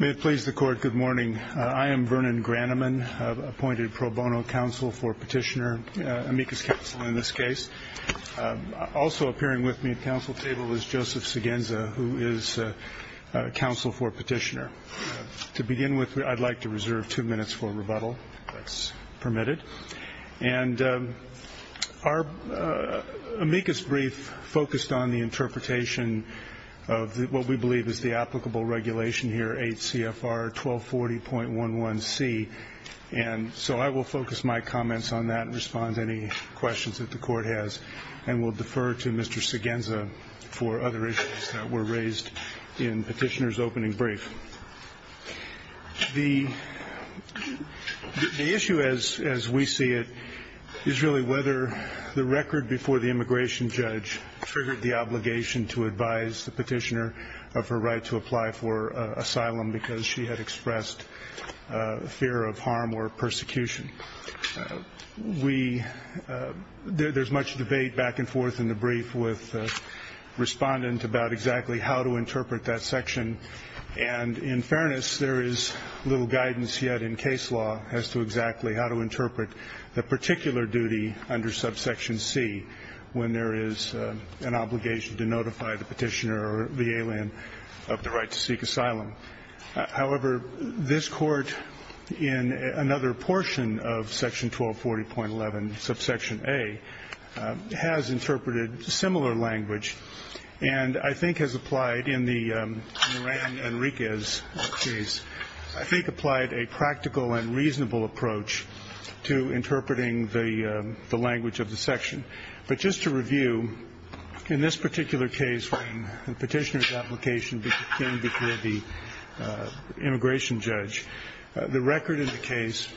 May it please the court, good morning. I am Vernon Graneman, appointed pro bono counsel for petitioner, amicus counsel in this case. Also appearing with me at counsel table is Joseph Segenza, who is counsel for petitioner. To begin with, I'd like to reserve two minutes for rebuttal, if that's permitted. And our amicus brief focused on the interpretation of what we believe is the applicable regulation here, 8 CFR 1240.11c. And so I will focus my comments on that and respond to any questions that the court has. And we'll defer to Mr. Segenza for other issues that were raised in petitioner's opening brief. The issue as we see it is really whether the record before the immigration judge triggered the obligation to advise the petitioner of her right to apply for asylum because she had expressed fear of harm or persecution. We, there's much debate back and forth in the brief with respondent about exactly how to interpret that section. And in fairness, there is little guidance yet in case law as to exactly how to interpret the particular duty under subsection c when there is an obligation to notify the petitioner or the alien of the right to seek asylum. However, this court in another portion of section 1240.11 subsection a has interpreted similar language and I think has applied in the Ran Enriquez case, I think applied a practical and reasonable approach to interpreting the language of the section. But just to review, in this particular case when the petitioner's application came before the immigration judge, the record in the case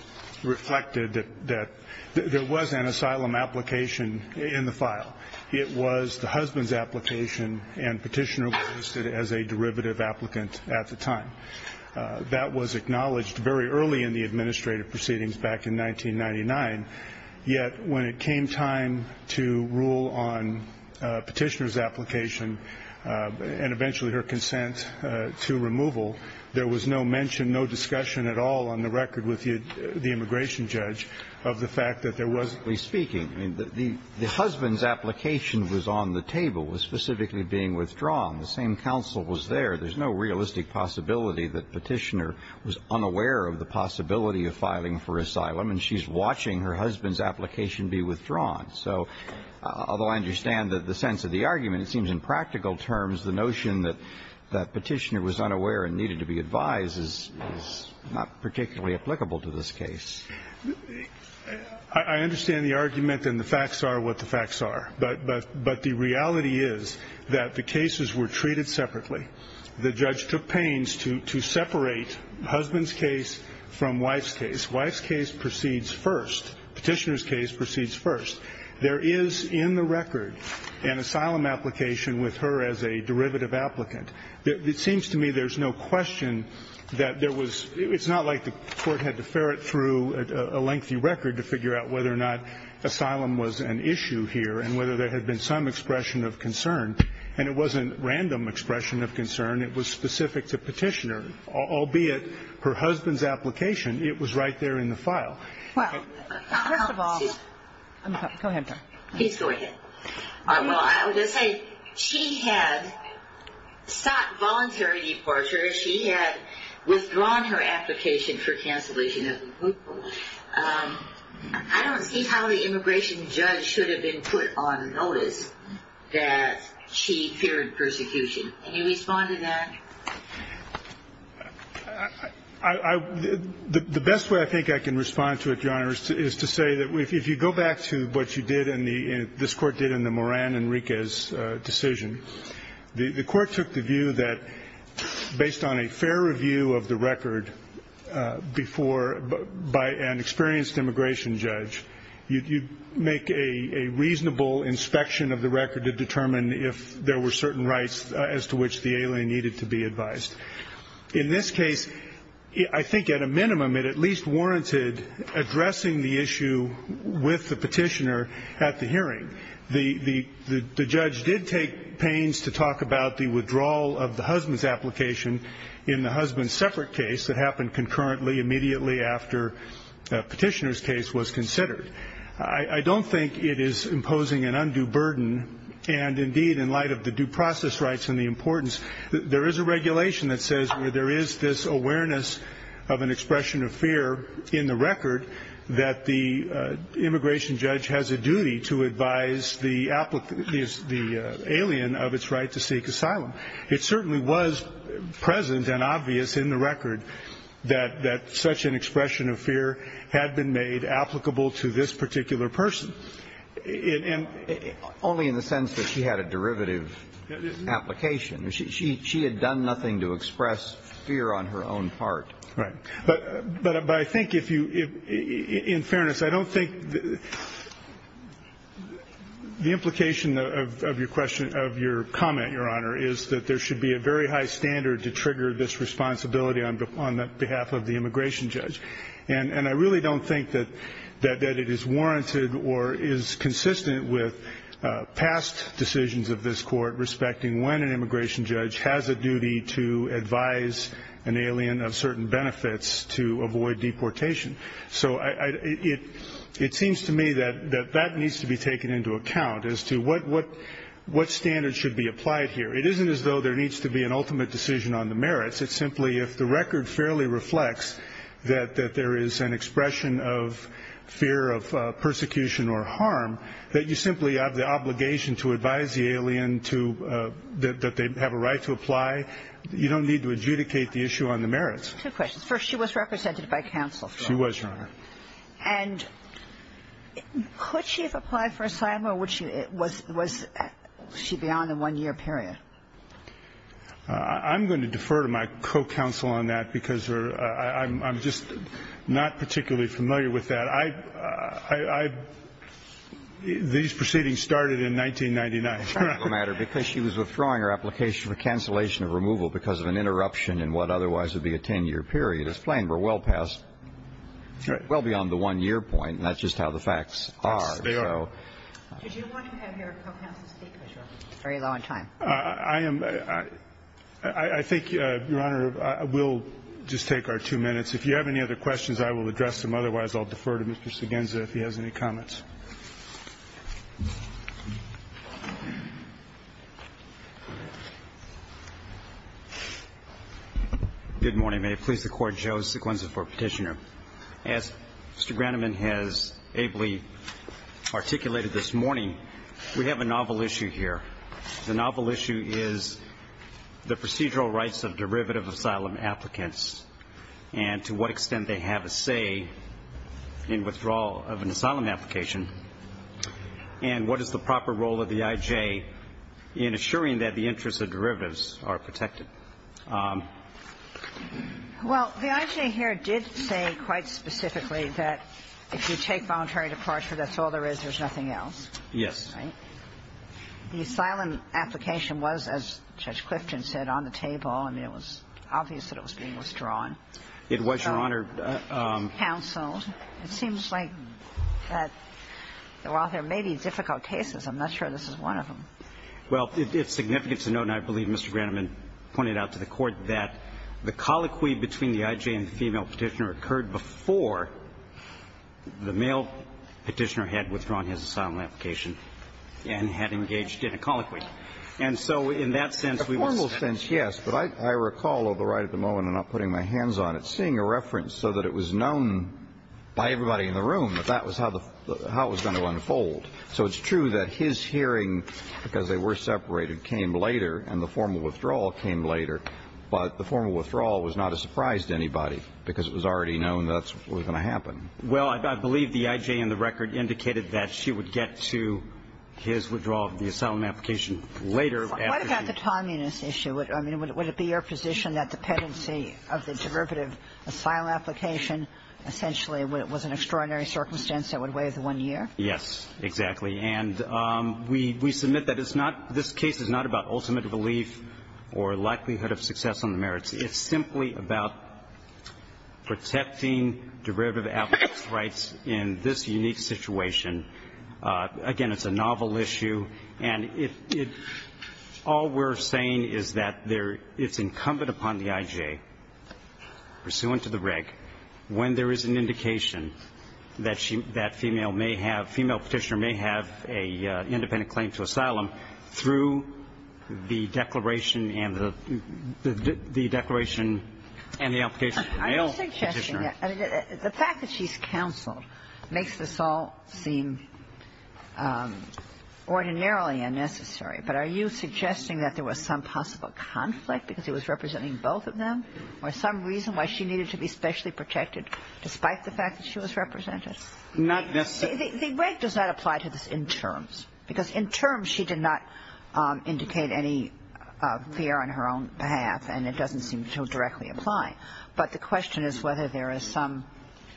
reflected that there was an asylum application in the file. It was the husband's application and petitioner was listed as a derivative applicant at the time. That was acknowledged very early in the administrative proceedings back in 1999. Yet when it came time to rule on petitioner's application and eventually her consent to removal, there was no mention, no discussion at all on the record with the immigration judge of the fact that there wasn't. Speaking, the husband's application was on the table, was specifically being withdrawn. The same counsel was there. There's no realistic possibility that filing for asylum and she's watching her husband's application be withdrawn. So although I understand the sense of the argument, it seems in practical terms the notion that petitioner was unaware and needed to be advised is not particularly applicable to this case. I understand the argument and the facts are what the facts are. But the reality is that the cases were treated separately. The judge took pains to separate husband's case from wife's case. Wife's case proceeds first. Petitioner's case proceeds first. There is in the record an asylum application with her as a derivative applicant. It seems to me there's no question that there was, it's not like the court had to ferret through a lengthy record to figure out whether or not asylum was an issue here and whether there had been some expression of concern. And it wasn't random expression of concern. It was specific to her husband's application. It was right there in the file. Well, first of all, go ahead. Please go ahead. Well, I would say she had sought voluntary departure. She had withdrawn her application for cancellation. I don't see how the immigration judge should have been put on notice that she feared persecution. Can you respond to that? I, the best way I think I can respond to it, your honor, is to say that if you go back to what you did in the, this court did in the Moran and Riquez decision, the court took the view that based on a fair review of the record before, by an experienced immigration judge, you make a reasonable inspection of the record to be advised. In this case, I think at a minimum, it at least warranted addressing the issue with the petitioner at the hearing. The, the, the judge did take pains to talk about the withdrawal of the husband's application in the husband's separate case that happened concurrently immediately after a petitioner's case was considered. I, I don't think it is imposing an undue burden. And indeed, in regulation that says where there is this awareness of an expression of fear in the record, that the immigration judge has a duty to advise the applicant, the alien of its right to seek asylum. It certainly was present and obvious in the record that, that such an expression of fear had been made applicable to this particular person. Only in the sense that she had a derivative application. She, she had done nothing to express fear on her own part. Right. But, but, but I think if you, if in fairness, I don't think the, the implication of, of your question, of your comment, Your Honor, is that there should be a very high standard to trigger this responsibility on, on the behalf of the immigration judge. And, and I really don't think that, that, that it is warranted or is consistent with past decisions of this court respecting when an immigration judge has a duty to advise an alien of certain benefits to avoid deportation. So I, I, it, it seems to me that, that, that needs to be taken into account as to what, what, what standards should be applied here. It isn't as though there needs to be an ultimate decision on the merits. It's simply if the record fairly reflects that, that there is an expression of fear of persecution or harm, that you simply have the obligation to the alien to, that, that they have a right to apply, you don't need to adjudicate the issue on the merits. Two questions. First, she was represented by counsel. She was, Your Honor. And could she have applied for asylum or would she, was, was she beyond a one-year period? I'm going to defer to my co-counsel on that because her, I, I'm, I'm just not particularly familiar with that. I, I, I, these proceedings started in 1999. It's a practical matter because she was withdrawing her application for cancellation of removal because of an interruption in what otherwise would be a 10-year period. It's plain, we're well past, well beyond the one-year point. And that's just how the facts are. Yes, they are. So. Did you want to have your co-counsel speak, Mr. Argyle? It's very low on time. I, I am, I, I, I think, Your Honor, we'll just take our two minutes. If you have any other questions, I will address them. Otherwise, I'll defer to Mr. Segenza if he has any comments. Good morning. May it please the Court, Joe Segenza for Petitioner. As Mr. Groneman has ably articulated this morning, we have a novel issue here. The novel issue is the procedural rights of derivative asylum applicants and to what extent they have a say in withdrawal of an asylum application, and what is the proper role of the I.J. in assuring that the interests of derivatives are protected. Well, the I.J. here did say quite specifically that if you take voluntary departure, that's all there is. There's nothing else. Yes. The asylum application was, as Judge Clifton said, on the table. I mean, it was obvious that it was being withdrawn. It was, Your Honor. Counseled. It seems like that while there may be difficult cases, I'm not sure this is one of them. Well, it's significant to note, and I believe Mr. Groneman pointed out to the Court, that the colloquy between the I.J. and the female Petitioner occurred before the male Petitioner had withdrawn his asylum application and had engaged in a colloquy. And so in that sense, we would say that's true. But I recall, although right at the moment I'm not putting my hands on it, seeing a reference so that it was known by everybody in the room that that was how the – how it was going to unfold. So it's true that his hearing, because they were separated, came later, and the formal withdrawal came later. But the formal withdrawal was not a surprise to anybody, because it was already known that's what was going to happen. Well, I believe the I.J. in the record indicated that she would get to his withdrawal of the asylum application later after the – What about the timeliness issue? I mean, would it be your position that the pendency of the derivative asylum application essentially was an extraordinary circumstance that would weigh the one year? Yes, exactly. And we – we submit that it's not – this case is not about ultimate relief or likelihood of success on the merits. It's simply about protecting derivative applicants' rights in this unique situation. Again, it's a novel issue. And it – all we're saying is that there – it's incumbent upon the I.J., pursuant to the reg, when there is an indication that she – that female may have – female Petitioner may have an independent claim to asylum through the declaration and the – the declaration and the application for male Petitioner. Are you suggesting that – I mean, the fact that she's counseled makes this all seem ordinarily unnecessary. But are you suggesting that there was some possible conflict because it was representing both of them or some reason why she needed to be specially protected despite the fact that she was represented? Not necessarily. The reg does not apply to this in terms, because in terms she did not indicate any fear on her own behalf, and it doesn't seem to directly apply. But the question is whether there is some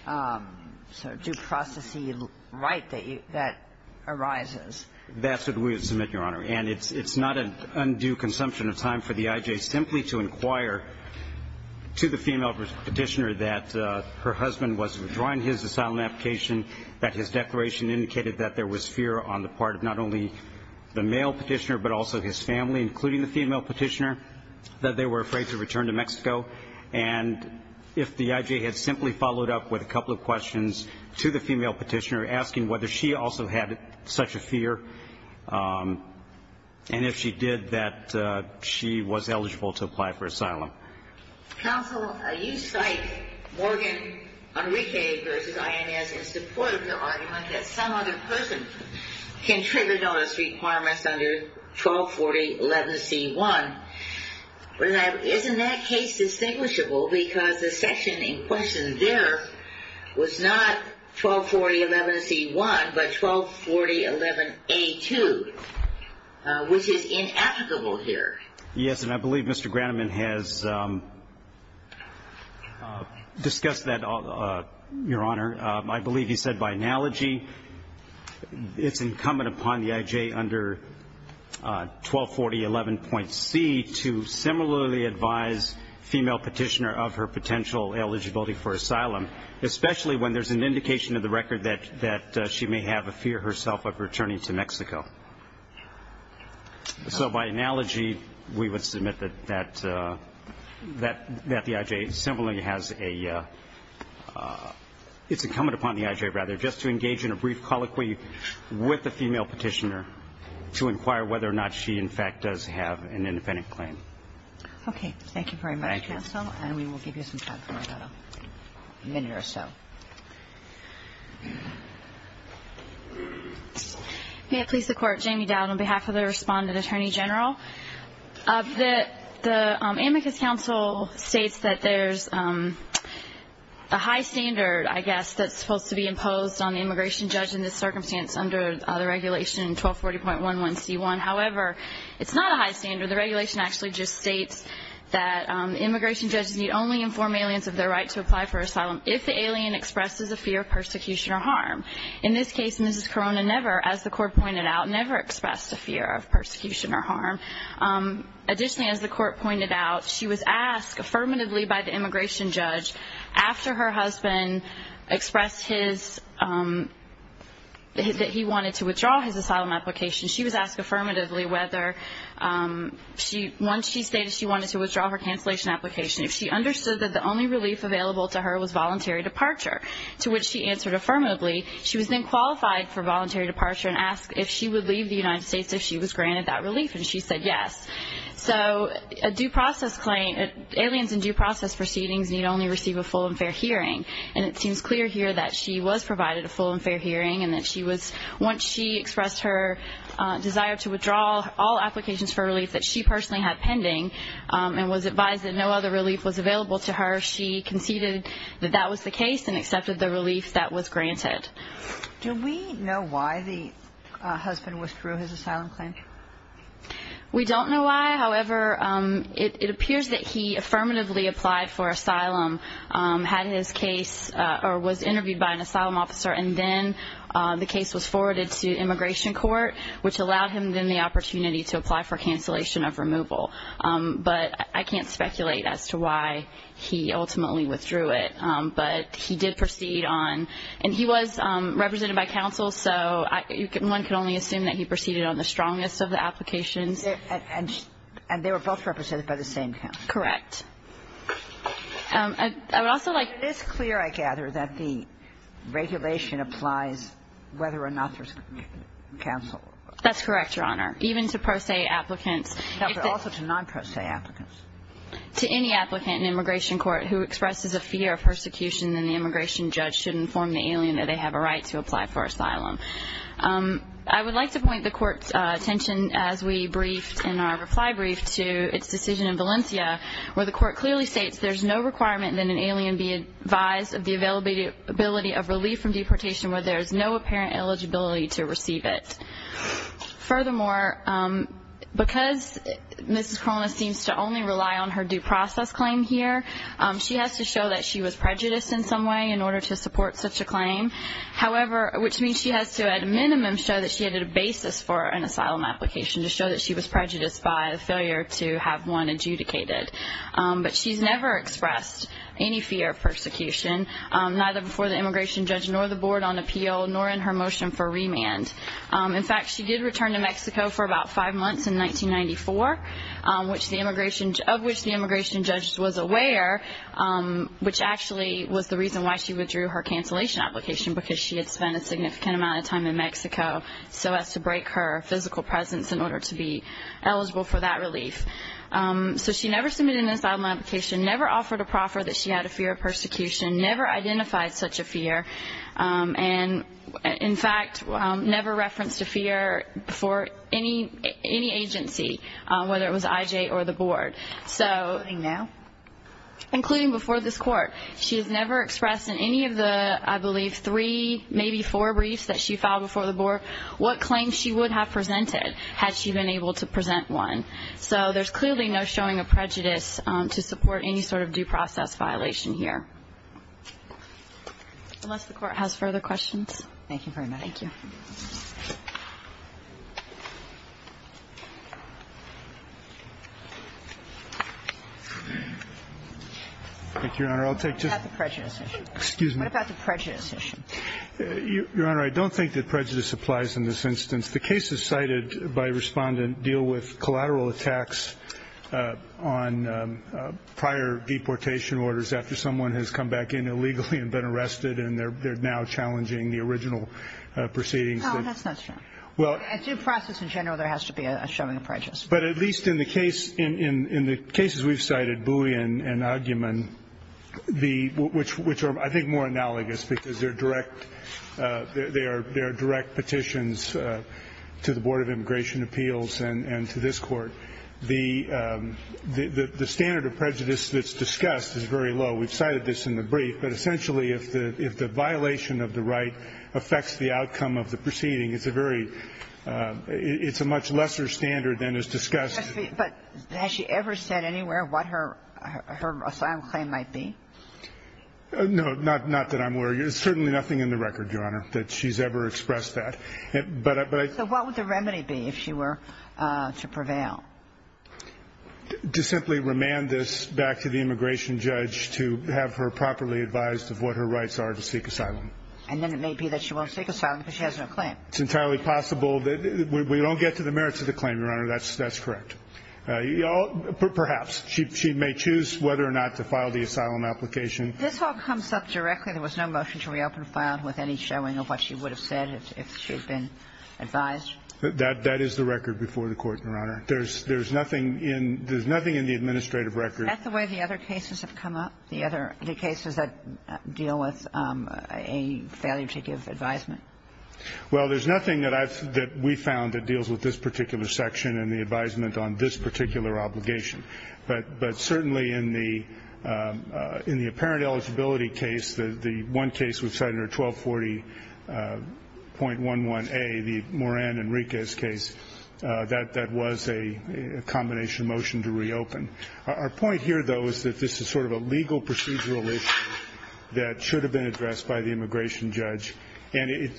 sort of due process-y right that arises. That's what we would submit, Your Honor. And it's not an undue consumption of time for the I.J. simply to inquire to the female Petitioner that her husband was withdrawing his asylum application, that his declaration indicated that there was fear on the part of not only the male Petitioner but also his family, including the female Petitioner, that they were afraid to return to Mexico. And if the I.J. had simply followed up with a couple of questions to the female Petitioner asking whether she also had such a fear, and if she did, that she was eligible to apply for asylum. Counsel, you cite Morgan, Enrique v. INS in support of the argument that some other person can trigger notice requirements under 124011C1. Isn't that case distinguishable? Because the section in question there was not 124011C1 but 124011A2, which is inapplicable here. Yes, and I believe Mr. Groneman has discussed that, Your Honor. I believe he said by analogy it's incumbent upon the I.J. under 124011.C to similarly advise female Petitioner of her potential eligibility for asylum, especially when there's an indication in the record that she may have a fear herself of returning to Mexico. So by analogy, we would submit that the I.J. similarly has a – it's incumbent upon the I.J., rather, just to engage in a brief colloquy with the female Petitioner to inquire whether or not she, in fact, does have an independent claim. Okay. Thank you very much, Counsel. Thank you. And we will give you some time for that, a minute or so. May it please the Court. Jamie Dowd on behalf of the Respondent Attorney General. The Amicus Council states that there's a high standard, I guess, that's supposed to be imposed on the immigration judge in this circumstance under the regulation 1240.11C1. However, it's not a high standard. The regulation actually just states that immigration judges need only inform aliens of their right to apply for asylum. If the alien expresses a fear of persecution or harm. In this case, Mrs. Corona never, as the Court pointed out, never expressed a fear of persecution or harm. Additionally, as the Court pointed out, she was asked affirmatively by the immigration judge after her husband expressed his – that he wanted to withdraw his asylum application. She was asked affirmatively whether – once she stated she wanted to withdraw her cancellation application, if she understood that the only relief available to her was voluntary departure. To which she answered affirmatively. She was then qualified for voluntary departure and asked if she would leave the United States if she was granted that relief. And she said yes. So a due process claim – aliens in due process proceedings need only receive a full and fair hearing. And it seems clear here that she was provided a full and fair hearing and that she was – once she expressed her desire to withdraw all applications for relief that she personally had pending and was advised that no other relief was granted, that that was the case and accepted the relief that was granted. Do we know why the husband withdrew his asylum claim? We don't know why. However, it appears that he affirmatively applied for asylum, had his case – or was interviewed by an asylum officer, and then the case was forwarded to immigration court, which allowed him then the opportunity to apply for cancellation of removal. But I can't speculate as to why he ultimately withdrew it. But he did proceed on – and he was represented by counsel, so one can only assume that he proceeded on the strongest of the applications. And they were both represented by the same counsel. Correct. I would also like – It is clear, I gather, that the regulation applies whether or not there's counsel. That's correct, Your Honor. Even to pro se applicants. Also to non-pro se applicants. To any applicant in immigration court who expresses a fear of persecution, then the immigration judge should inform the alien that they have a right to apply for asylum. I would like to point the Court's attention, as we briefed in our reply brief, to its decision in Valencia, where the Court clearly states there's no requirement that an alien be advised of the availability of relief from deportation where there's no apparent eligibility to receive it. Furthermore, because Mrs. Corona seems to only rely on her due process claim here, she has to show that she was prejudiced in some way in order to support such a claim. However, which means she has to, at a minimum, show that she had a basis for an asylum application, to show that she was prejudiced by a failure to have one adjudicated. But she's never expressed any fear of persecution, neither before the immigration judge nor the board on appeal, nor in her motion for remand. In fact, she did return to Mexico for about five months in 1994, of which the immigration judge was aware, which actually was the reason why she withdrew her cancellation application, because she had spent a significant amount of time in Mexico so as to break her physical presence in order to be eligible for that relief. So she never submitted an asylum application, never offered a proffer that she had a fear of persecution, never identified such a fear, and, in fact, never referenced a fear for any agency, whether it was IJ or the board. Including now? Including before this court. She has never expressed in any of the, I believe, three, maybe four briefs that she filed before the board, what claims she would have presented had she been able to present one. So there's clearly no showing of prejudice to support any sort of due process violation here. Unless the Court has further questions. Thank you very much. Thank you. Thank you, Your Honor. I'll take just one. What about the prejudice issue? Excuse me. What about the prejudice issue? Your Honor, I don't think that prejudice applies in this instance. The cases cited by Respondent deal with collateral attacks on prior deportation orders after someone has come back in illegally and been arrested and they're now challenging the original proceedings. No, that's not true. Well. A due process, in general, there has to be a showing of prejudice. But at least in the case, in the cases we've cited, buoy and argument, which are, I think, more analogous, because they're direct petitions to the Board of Immigration Appeals and to this court, the standard of prejudice that's discussed is very low. We've cited this in the brief. But essentially, if the violation of the right affects the outcome of the proceeding, it's a very – it's a much lesser standard than is discussed. But has she ever said anywhere what her assigned claim might be? No, not that I'm aware of. There's certainly nothing in the record, Your Honor, that she's ever expressed that. So what would the remedy be if she were to prevail? To simply remand this back to the immigration judge to have her properly advised of what her rights are to seek asylum. And then it may be that she won't seek asylum because she has no claim. It's entirely possible. We don't get to the merits of the claim, Your Honor. That's correct. Perhaps. She may choose whether or not to file the asylum application. This all comes up directly. There was no motion to reopen file with any showing of what she would have said if she had been advised. That is the record before the Court, Your Honor. There's nothing in the administrative record. Is that the way the other cases have come up, the other cases that deal with a failure to give advisement? Well, there's nothing that we found that deals with this particular section and the advisement on this particular obligation. But certainly in the apparent eligibility case, the one case with Senator 1240.11a, the Moran Enriquez case, that was a combination motion to reopen. Our point here, though, is that this is sort of a legal procedural issue that should have been addressed by the immigration judge. And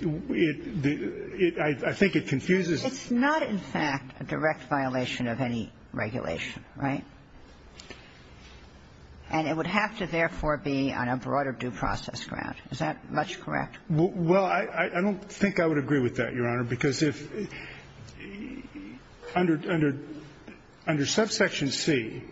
I think it confuses us. It's not, in fact, a direct violation of any regulation, right? And it would have to, therefore, be on a broader due process ground. Is that much correct? Well, I don't think I would agree with that, Your Honor, because if under subsection C,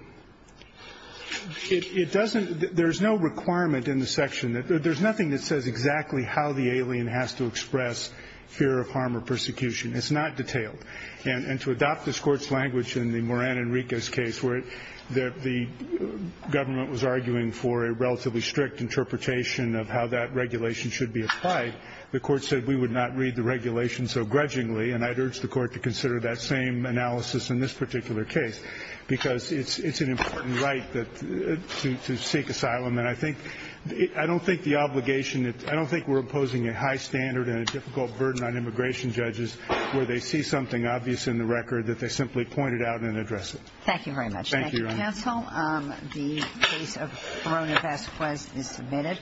it doesn't – there's no requirement in the section. There's nothing that says exactly how the alien has to express fear of harm or persecution. It's not detailed. And to adopt this Court's language in the Moran Enriquez case, where the government was arguing for a relatively strict interpretation of how that regulation should be applied, the Court said we would not read the regulation so grudgingly. And I'd urge the Court to consider that same analysis in this particular case, because it's an important right to seek asylum. And I think – I don't think the obligation – I don't think we're imposing a high standard and a difficult burden on immigration judges where they see something obvious in the record that they simply point it out and address it. Thank you very much. Thank you, Your Honor. Thank you, counsel. The case of Verona Vasquez is submitted.